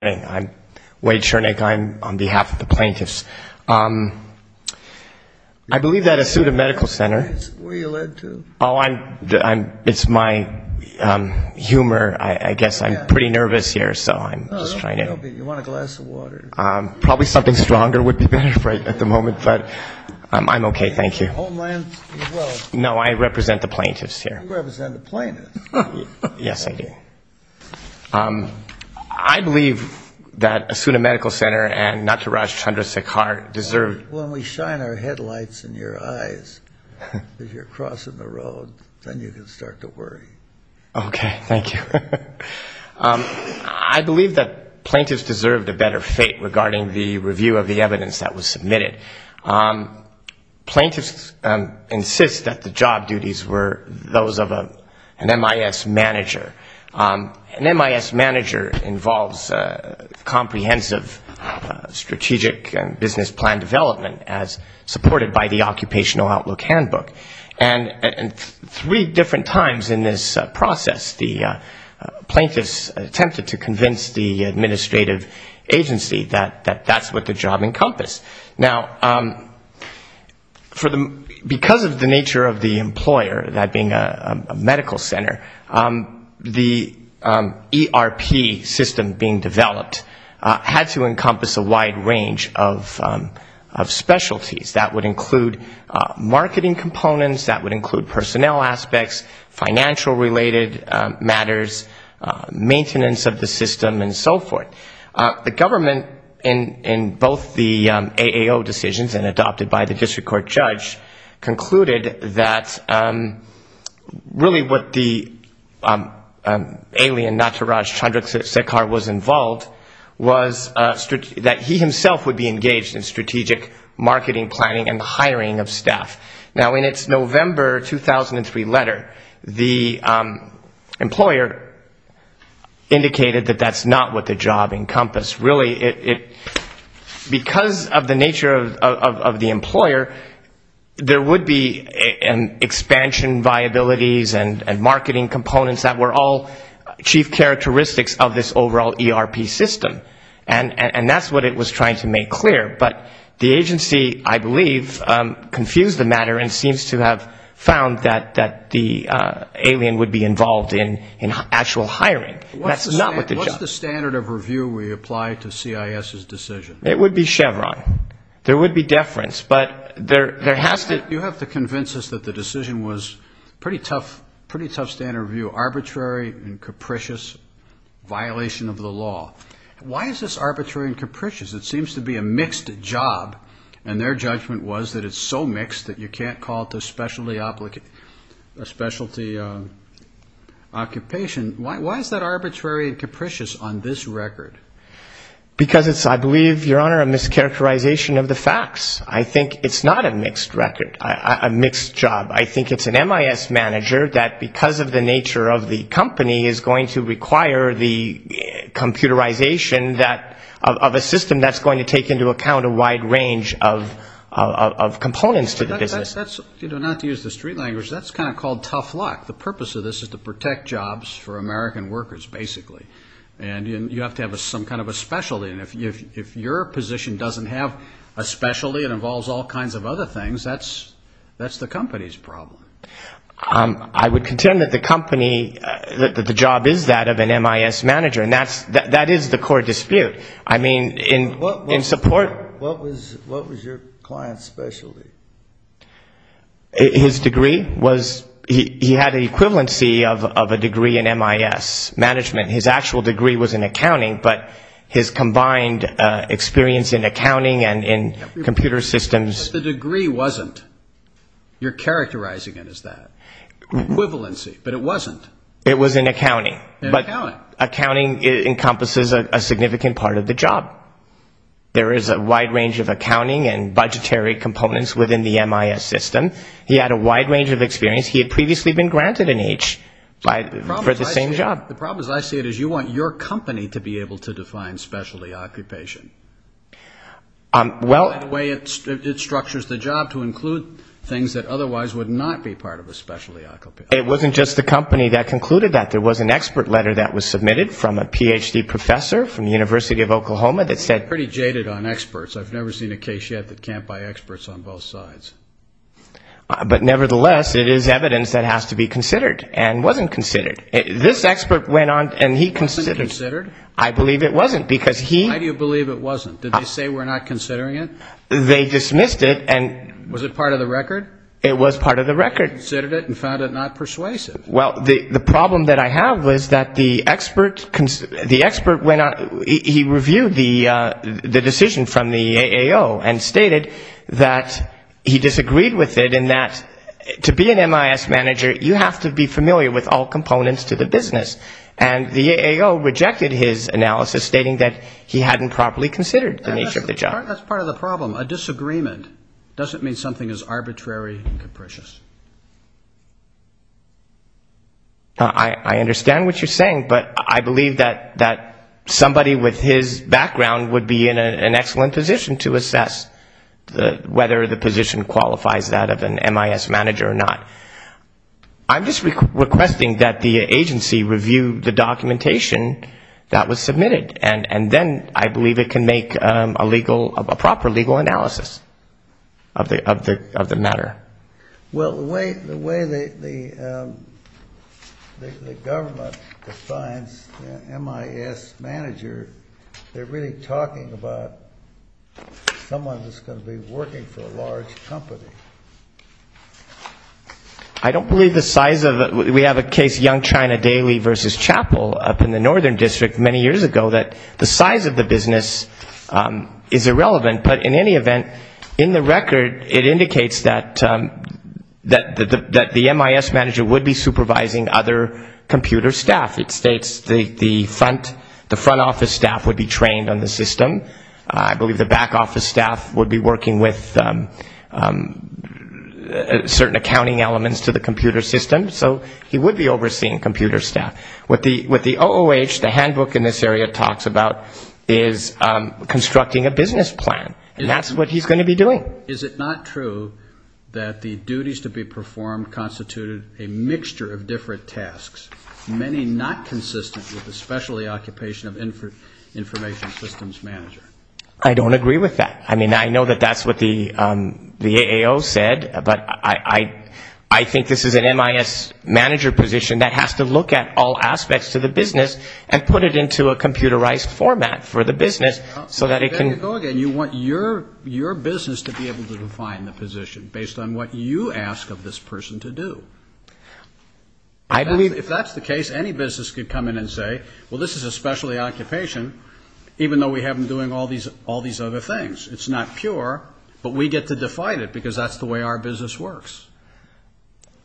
I'm Wade Shurnick. I'm on behalf of the plaintiffs. I believe that Asuta Medical Center... Where are you led to? Oh, it's my humor. I guess I'm pretty nervous here, so I'm just trying to... You want a glass of water? Probably something stronger would be better at the moment, but I'm okay, thank you. Homeland as well? No, I represent the plaintiffs here. You represent the plaintiffs. Yes, I do. I believe that Asuta Medical Center and Nataraj Chandra Sekhar deserve... When we shine our headlights in your eyes as you're crossing the road, then you can start to worry. Okay, thank you. I believe that plaintiffs deserved a better fate regarding the review of the evidence that was submitted. Plaintiffs insist that the job duties were those of an MIS manager. An MIS manager involves comprehensive strategic business plan development as supported by the Occupational Outlook Handbook. And three different times in this process, the plaintiffs attempted to convince the administrative agency that that's what the job encompassed. Now, because of the nature of the employer, that being a medical center, the ERP system being developed had to encompass a wide range of specialties. That would include marketing components, that would include personnel aspects, financial-related matters, maintenance of the And so, the plaintiffs, after a series of no-go decisions and adopted by the district court judge, concluded that really what the alien Nataraj Chandra Sekhar was involved was that he himself would be engaged in strategic marketing, planning, and hiring of staff. Now, in its November 2003 letter, the employer indicated that that's not what the job encompassed. Now, because of the nature of the employer, there would be expansion viabilities and marketing components that were all chief characteristics of this overall ERP system. And that's what it was trying to make clear. But the agency, I believe, confused the matter and seems to have found that the alien would be involved in actual hiring. That's not what the job So, what standard of review would you apply to CIS's decision? It would be Chevron. There would be deference, but there has to... You have to convince us that the decision was pretty tough standard of review, arbitrary and capricious violation of the law. Why is this arbitrary and Because it's, I believe, Your Honor, a mischaracterization of the facts. I think it's not a mixed record, a mixed job. I think it's an MIS manager that because of the nature of the company is going to require the computerization of a system that's going to take into account a wide range of components to the business. You know, not to use the street language, that's kind of called tough luck. The purpose of this is to protect jobs for American workers, basically. And you have to have some kind of a specialty. And if your position doesn't have a specialty and involves all kinds of other things, that's the company's problem. I would contend that the company, that the job is that of an MIS manager. And that is the core dispute. I mean, in support... What was your client's specialty? His degree was, he had an equivalency of a degree in MIS management. His actual degree was in accounting, but his combined experience in accounting and in computer systems... But the degree wasn't. You're characterizing it as that. Equivalency. But it wasn't. It was in accounting. But accounting encompasses a significant part of the job. There is a wide range of accounting and budgetary components within the MIS system. He had a wide range of experience. He had previously been granted an H for the same job. The problem is I see it as you want your company to be able to define specialty occupation. That way it structures the job to include things that otherwise would not be part of a specialty occupation. It wasn't just the company that concluded that. There was an expert letter that was submitted from a Ph.D. professor from the University of Oklahoma that said... I'm pretty jaded on experts. I've never seen a case yet that can't buy experts on both sides. But nevertheless, it is evidence that has to be considered and wasn't considered. This expert went on and he considered... Wasn't considered? I believe it wasn't, because he... Well, the problem that I have was that the expert went on... He reviewed the decision from the AAO and stated that he disagreed with it in that to be an MIS manager, you have to be familiar with all components to the business. And the AAO rejected his analysis, stating that he hadn't properly considered the nature of the job. That's part of the problem. A disagreement doesn't mean something is arbitrary and capricious. I understand what you're saying, but I believe that somebody with his background would be in an excellent position to assess whether the position qualifies that of an MIS manager or not. I'm just requesting that the agency review the documentation that was submitted, and then I believe it can make a proper legal analysis of the matter. Well, the way the government defines MIS manager, they're really talking about someone who's going to be working for a large company. I don't believe the size of it. We have a case, Young China Daily v. Chapel, up in the Northern District many years ago, that the size of the business is irrelevant. But in any event, in the record, it indicates that the MIS manager would be supervising other computer staff. It states the front office staff would be trained on the system. I believe the back office staff would be working with certain accounting elements to the computer system. So he would be overseeing computer staff. What the OOH, the handbook in this area, talks about is constructing a business plan, and that's what he's going to be doing. Is it not true that the duties to be performed constituted a mixture of different tasks, many not consistent with the specialty occupation of information systems manager? I don't agree with that. I mean, I know that that's what the AAO said, but I think this is an MIS manager position that has to look at all aspects to the business and put it into a computerized format for the business so that it can go again. You want your business to be able to define the position based on what you ask of this person to do. If that's the case, any business could come in and say, well, this is a specialty occupation, even though we have them doing all these other things. It's not pure, but we get to define it, because that's the way our business works.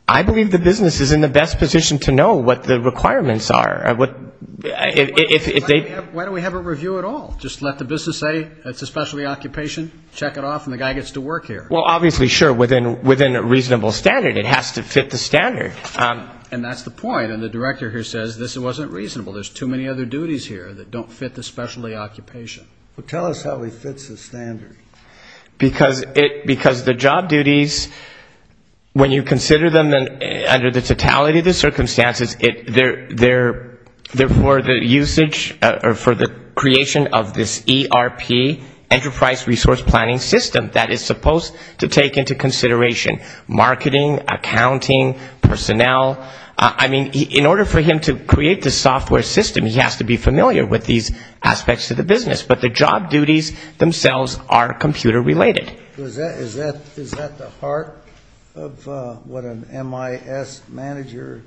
I believe the business is in the best position to know what the requirements are. Why do we have a review at all? Just let the business say it's a specialty occupation, check it off, and the guy gets to work here. Well, obviously, sure, within a reasonable standard. It has to fit the standard. And that's the point, and the director here says this wasn't reasonable. There's too many other duties here that don't fit the specialty occupation. Well, tell us how he fits the standard. Because the job duties, when you consider them under the totality of the circumstances, they're for the usage or for the creation of this ERP, enterprise resource planning system that is supposed to take into consideration marketing, accounting, personnel. I mean, in order for him to create the software system, he has to be familiar with these aspects of the business. But the job duties themselves are computer related. Is that the heart of what an MIS manager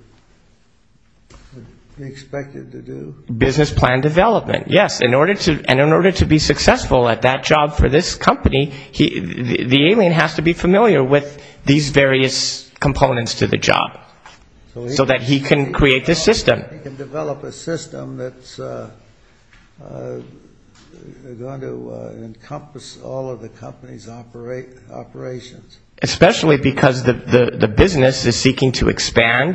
is expected to do? Business plan development, yes. And in order to be successful at that job for this company, the alien has to be familiar with these various components to the job, so that he can create the system. He can develop a system that's going to encompass all of the company's operations. Especially because the business is seeking to expand,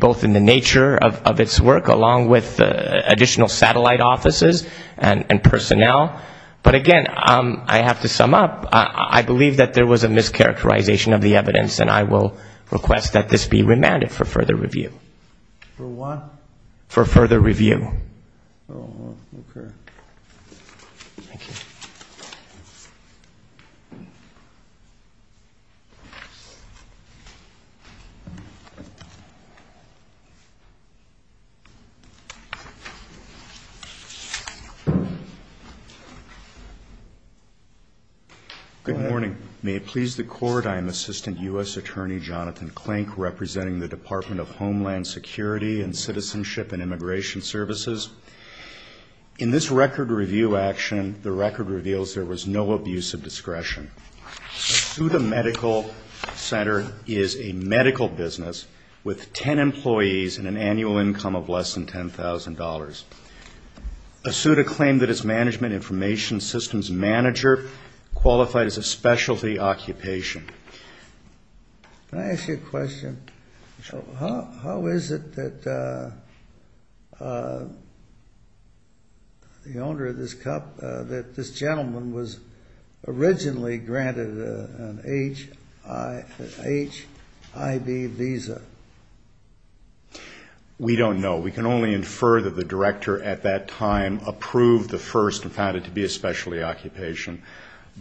both in the nature of its work, along with additional satellite offices and personnel. But again, I have to sum up, I believe that there was a mischaracterization of the evidence, and I will request that this be remanded for further review. Good morning. May it please the Court, I am Assistant U.S. Attorney Jonathan Klink, representing the Department of Homeland Security and Citizenship and Immigration Services. In this record review action, the record reveals there was no abuse of discretion. Asuta Medical Center is a medical business with 10 employees and an annual income of less than $10,000. Asuta claimed that its management information systems manager qualified as a specialty occupation. Can I ask you a question? How is it that the owner of this cup, that this gentleman was originally granted an HIV visa? We don't know. We can only infer that the director at that time approved the first and found it to be a specialty occupation.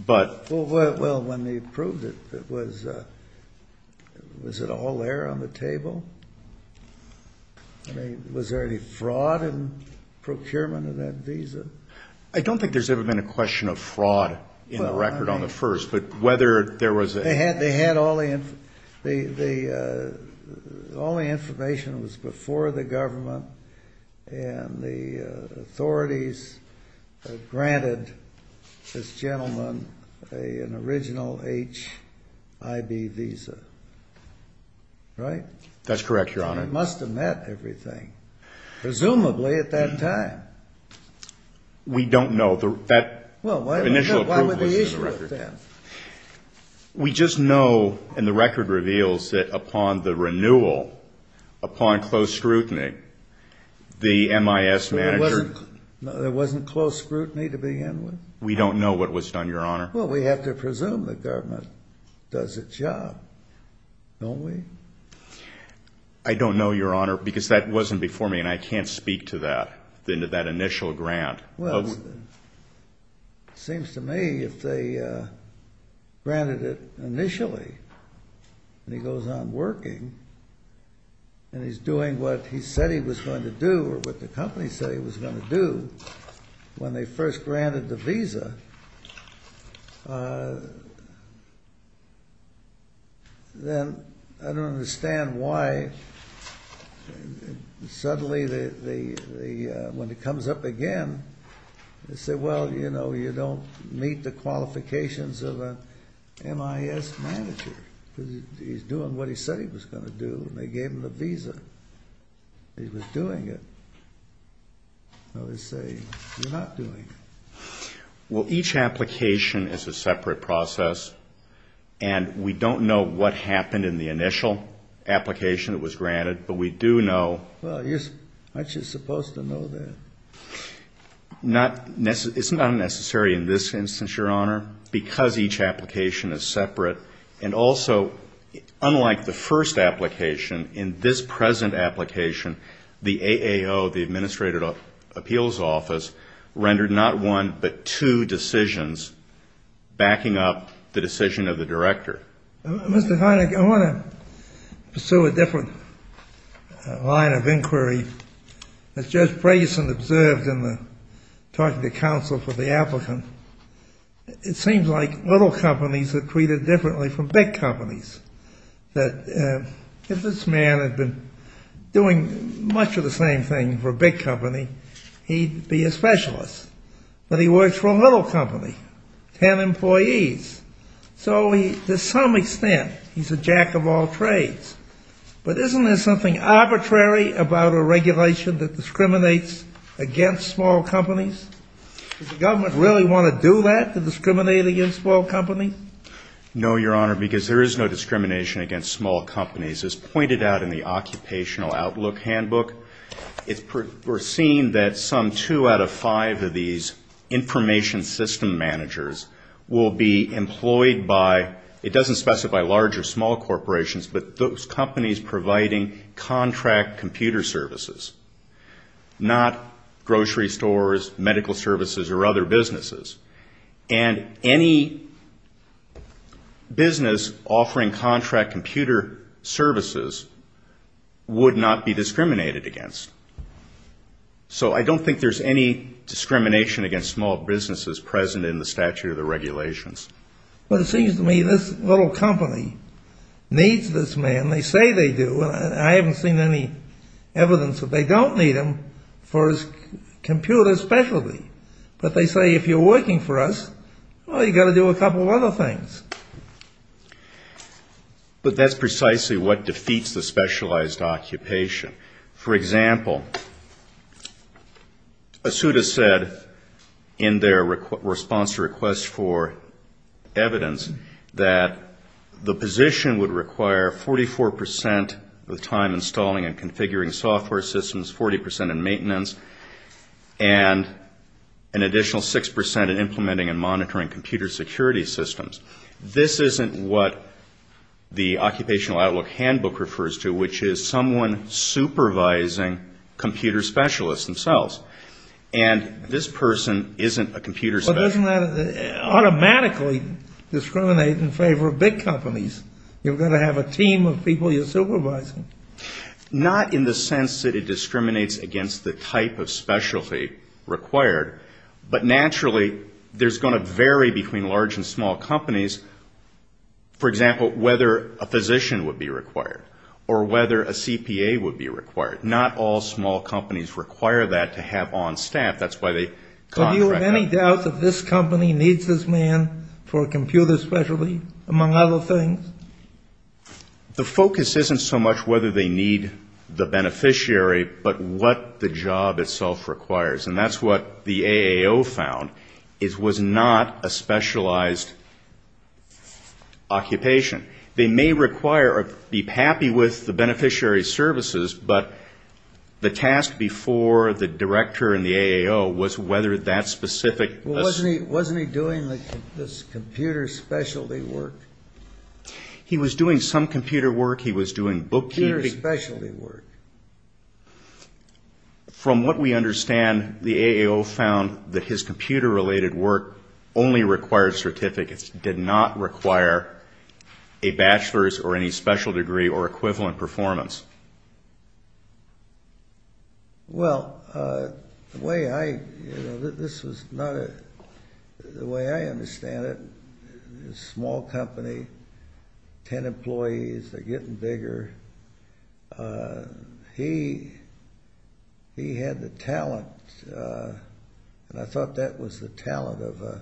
Well, when they approved it, was it all there on the table? I mean, was there any fraud in procurement of that visa? I don't think there's ever been a question of fraud in the record on the first, but whether there was... They had all the information. All the information was before the government, and the authorities granted this gentleman a original HIV visa, right? That's correct, Your Honor. It must have met everything, presumably at that time. We don't know. That initial approval wasn't in the record. We just know, and the record reveals, that upon the renewal, upon close scrutiny, the MIS manager... There wasn't close scrutiny to begin with? We don't know what was done, Your Honor. Well, we have to presume the government does its job, don't we? I don't know, Your Honor, because that wasn't before me, and I can't speak to that, to that initial grant. Well, it seems to me if they granted it initially, and he goes on working, and he's doing what he said he was going to do, or what the company said he was going to do, when they first granted the visa, then I don't know. I don't understand why, suddenly, when it comes up again, they say, well, you know, you don't meet the qualifications of an MIS manager, because he's doing what he said he was going to do, and they gave him the visa. He was doing it. Well, each application is a separate process, and we don't know what happened in the initial, in the initial application that was granted, but we do know... Well, aren't you supposed to know that? It's not necessary in this instance, Your Honor, because each application is separate, and also, unlike the first application, in this present application, the AAO, the Administrative Appeals Office, rendered not one but two decisions backing up the decision of the director. Mr. Hynek, I want to pursue a different line of inquiry. As Judge Brageson observed in the talking to counsel for the applicant, it seems like little companies are treated differently from big companies, that if this man had been doing much of the same thing for a big company, he'd be a specialist, but he works for a little company, ten employees. So he, to some extent, he's a jack-of-all-trades, but isn't there something arbitrary about a regulation that discriminates against small companies? Does the government really want to do that, to discriminate against small companies? No, Your Honor, because there is no discrimination against small companies. As pointed out in the Occupational Outlook Handbook, we're seeing that some two out of five of these information system managers will be employed by, it doesn't specify large or small corporations, but those companies providing contract computer services, not grocery stores, medical services, or other businesses. And any business offering contract computer services would not be discriminated against. So I don't think there's any discrimination against small businesses present in the statute of the regulations. But it seems to me this little company needs this man, they say they do, and I haven't seen any evidence that they don't need him for his computer specialty. But they say if you're working for us, well, you've got to do a couple of other things. But that's precisely what defeats the specialized occupation. For example, Asuta said in their response to request for evidence that the position would require 44% of the time installing and configuring software systems, 40% in maintenance, and an additional 6% in implementing and monitoring computer security systems. This isn't what the Occupational Outlook Handbook refers to, which is someone supervising computer specialists themselves. And this person isn't a computer specialist. But doesn't that automatically discriminate in favor of big companies? You've got to have a team of people you're supervising. Not in the sense that it discriminates against the type of specialty required, but naturally there's going to vary between large and small companies. For example, whether a physician would be required or whether a CPA would be required. Not all small companies require that to have on staff. That's why they contract them. Do you have any doubt that this company needs this man for a computer specialty, among other things? The focus isn't so much whether they need the beneficiary, but what the job itself requires. And that's what the AAO found, was not a specialized occupation. They may require or be happy with the beneficiary's services, but the task before the director and the AAO was whether that specific... Wasn't he doing this computer specialty work? He was doing some computer work. He was doing bookkeeping. Computer specialty work. From what we understand, the AAO found that his computer-related work only required certificates, did not require a bachelor's or any special degree or equivalent performance. Well, the way I understand it, this small company, 10 employees, they're getting bigger. He had the talent, and I thought that was the talent of a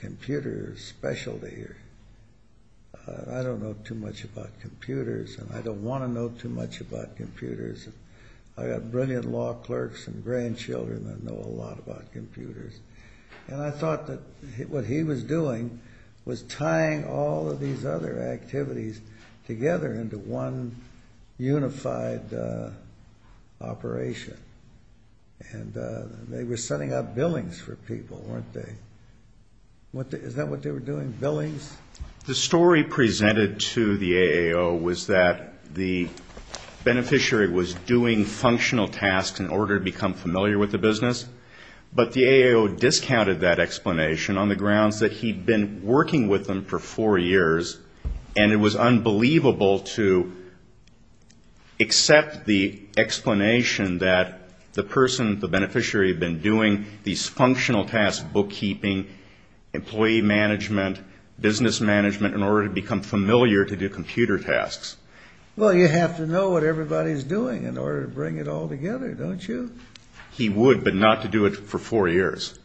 computer specialty. I don't know too much about computers, and I don't want to know too much about computers. I've got brilliant law clerks and grandchildren that know a lot about computers. And I thought that what he was doing was tying all of these other activities together into one unified operation. And they were setting up billings for people, weren't they? Is that what they were doing, billings? The story presented to the AAO was that the beneficiary was doing functional tasks in order to become familiar with the business, but the AAO discounted that explanation on the grounds that he'd been working with them for four years, and it was unbelievable to accept the explanation that the person, the beneficiary, had been doing these functional tasks, bookkeeping, employee management, business management, in order to become familiar to do computer tasks. Well, you have to know what everybody's doing in order to bring it all together, don't you? He would, but not to do it for four years.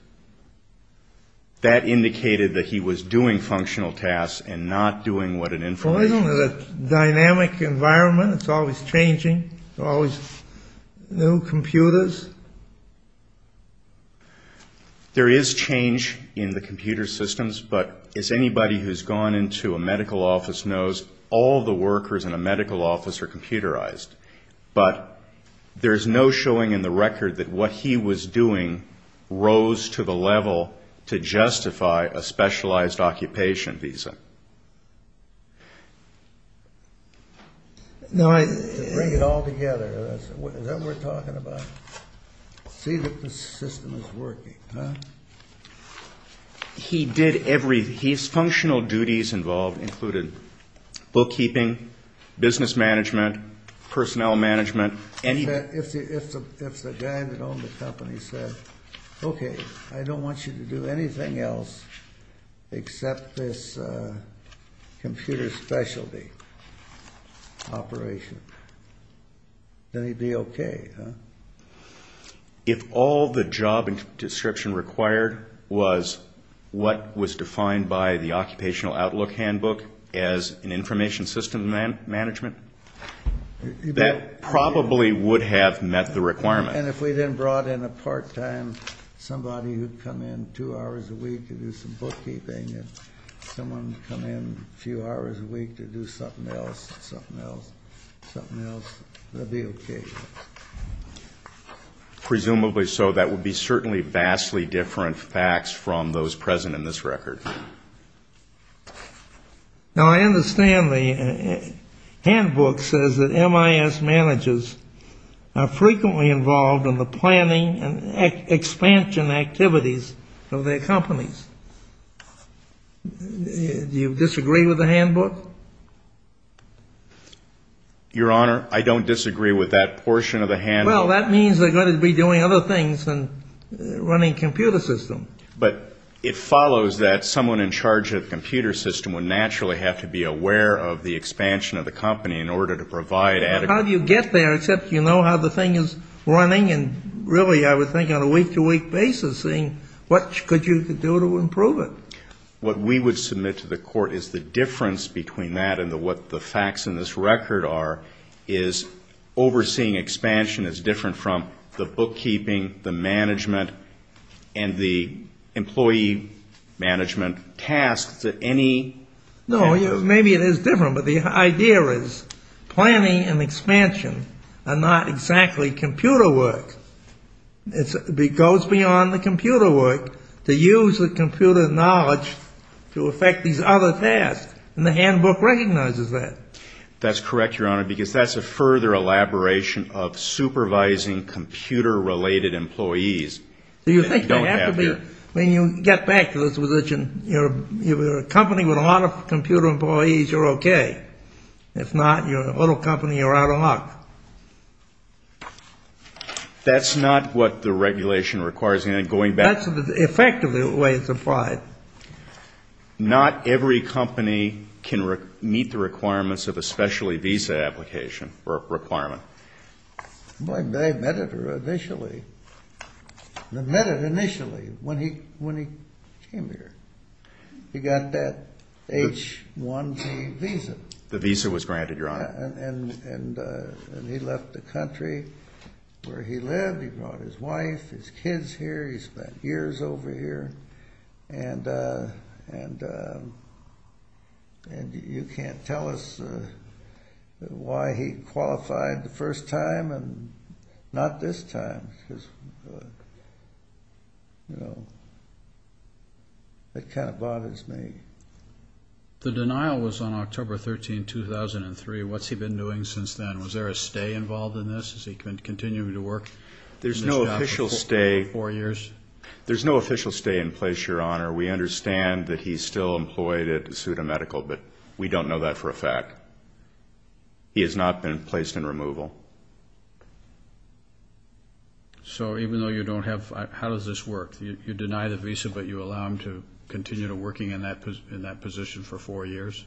That indicated that he was doing functional tasks and not doing what an information... Well, isn't it a dynamic environment? It's always changing. There are always new computers. There is change in the computer systems, but as anybody who's gone into a medical office knows, all the workers in a medical office are computerized. But there's no showing in the record that what he was doing rose to the level to justify a specialized occupation visa. To bring it all together. Is that what we're talking about? See that the system is working. His functional duties involved included bookkeeping, business management, personnel management. If the guy that owned the company said, okay, I don't want you to do anything else except this computer specialty operation, then he'd be okay, huh? If all the job description required was what was defined by the Occupational Outlook Handbook as an information system management, that probably would have met the requirement. And if we then brought in a part-time somebody who'd come in two hours a week to do some bookkeeping and someone would come in a few hours a week to do something else, something else, something else, it would be okay. Presumably so. That would be certainly vastly different facts from those present in this record. Now, I understand the handbook says that MIS managers are frequently involved in the planning and expansion activities of their companies. Do you disagree with the handbook? Your Honor, I don't disagree with that portion of the handbook. Well, that means they're going to be doing other things than running computer systems. But it follows that someone in charge of the computer system would naturally have to be aware of the expansion of the company in order to provide adequate... How do you get there except you know how the thing is running and really I would think on a week-to-week basis seeing what could you do to improve it? What we would submit to the court is the difference between that and what the facts in this record are is overseeing expansion is different from the bookkeeping, the management, and the employee management tasks that any... No, maybe it is different, but the idea is planning and expansion are not exactly computer work. It goes beyond the computer work to use the computer knowledge to affect these other tasks, and the handbook recognizes that. That's correct, Your Honor, because that's a further elaboration of supervising computer-related employees that we don't have here. When you get back to this position, you're a company with a lot of computer employees, you're okay. If not, you're a little company, you're out of luck. That's not what the regulation requires, and going back... That's effectively the way it's applied. Not every company can meet the requirements of a specialty visa application or requirement. Boy, they met it initially. They met it initially when he came here. He got that H-1B visa. The visa was granted, Your Honor. He left the country where he lived. He brought his wife, his kids here. He spent years over here. You can't tell us why he qualified the first time and not this time. That kind of bothers me. The denial was on October 13, 2003. What's he been doing since then? Was there a stay involved in this? Is he continuing to work? There's no official stay in place, Your Honor. We understand that he's still employed at Asuda Medical, but we don't know that for a fact. He has not been placed in removal. So even though you don't have... How does this work? You deny the visa, but you allow him to continue working in that position for four years?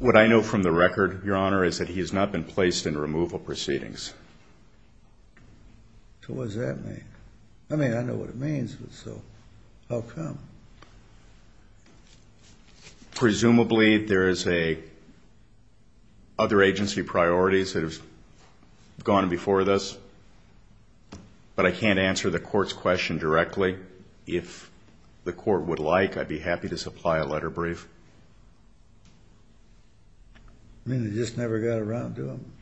What I know from the record, Your Honor, is that he has not been placed in removal proceedings. So what does that mean? I mean, I know what it means, but so how come? Presumably there is other agency priorities that have gone before this, but I can't answer the court's question directly. If the court would like, I'd be happy to supply a letter brief. You mean he just never got around to them?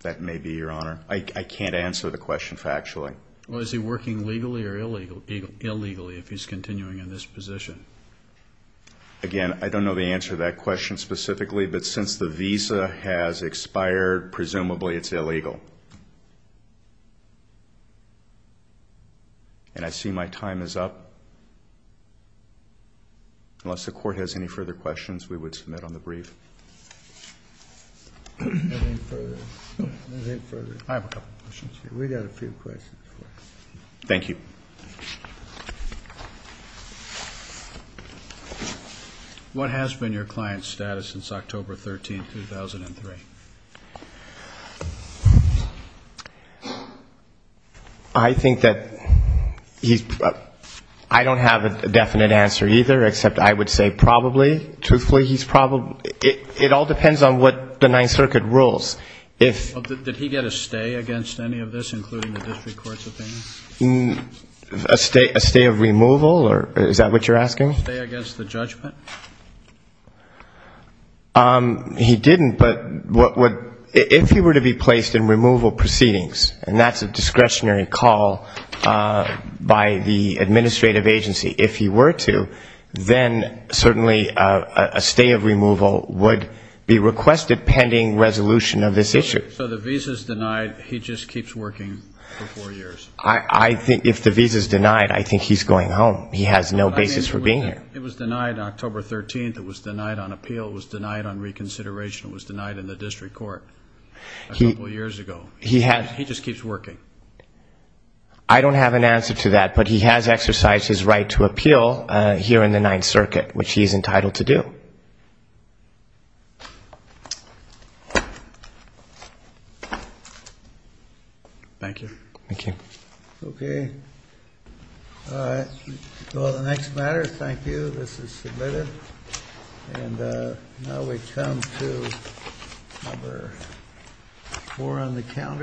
That may be, Your Honor. I can't answer the question factually. Well, is he working legally or illegally if he's continuing in this position? Again, I don't know the answer to that question specifically, but since the visa has expired, presumably it's illegal. And I see my time is up. Unless the court has any further questions, we would submit on the brief. Anything further? I have a couple of questions. We've got a few questions for you. Thank you. What has been your client's status since October 13, 2003? I think that he's been, I don't have a definite answer either, except I would say probably, truthfully, he's probably, it all depends on what the Ninth Circuit rules. Did he get a stay against any of this, including the district court's opinion? A stay of removal? Is that what you're asking? He didn't, but if he were to be placed in removal proceedings, and that's a discretionary call by the administrative agency, if he were to, then certainly a stay of removal would be requested under the pending resolution of this issue. So the visa's denied, he just keeps working for four years? If the visa's denied, I think he's going home. He has no basis for being here. It was denied on October 13, it was denied on appeal, it was denied on reconsideration, it was denied in the district court a couple years ago. He just keeps working. I don't have an answer to that, but he has exercised his right to appeal here in the Ninth Circuit, which he's entitled to do. Thank you. Well, the next matter, thank you, this is submitted. And now we come to number four on the calendar.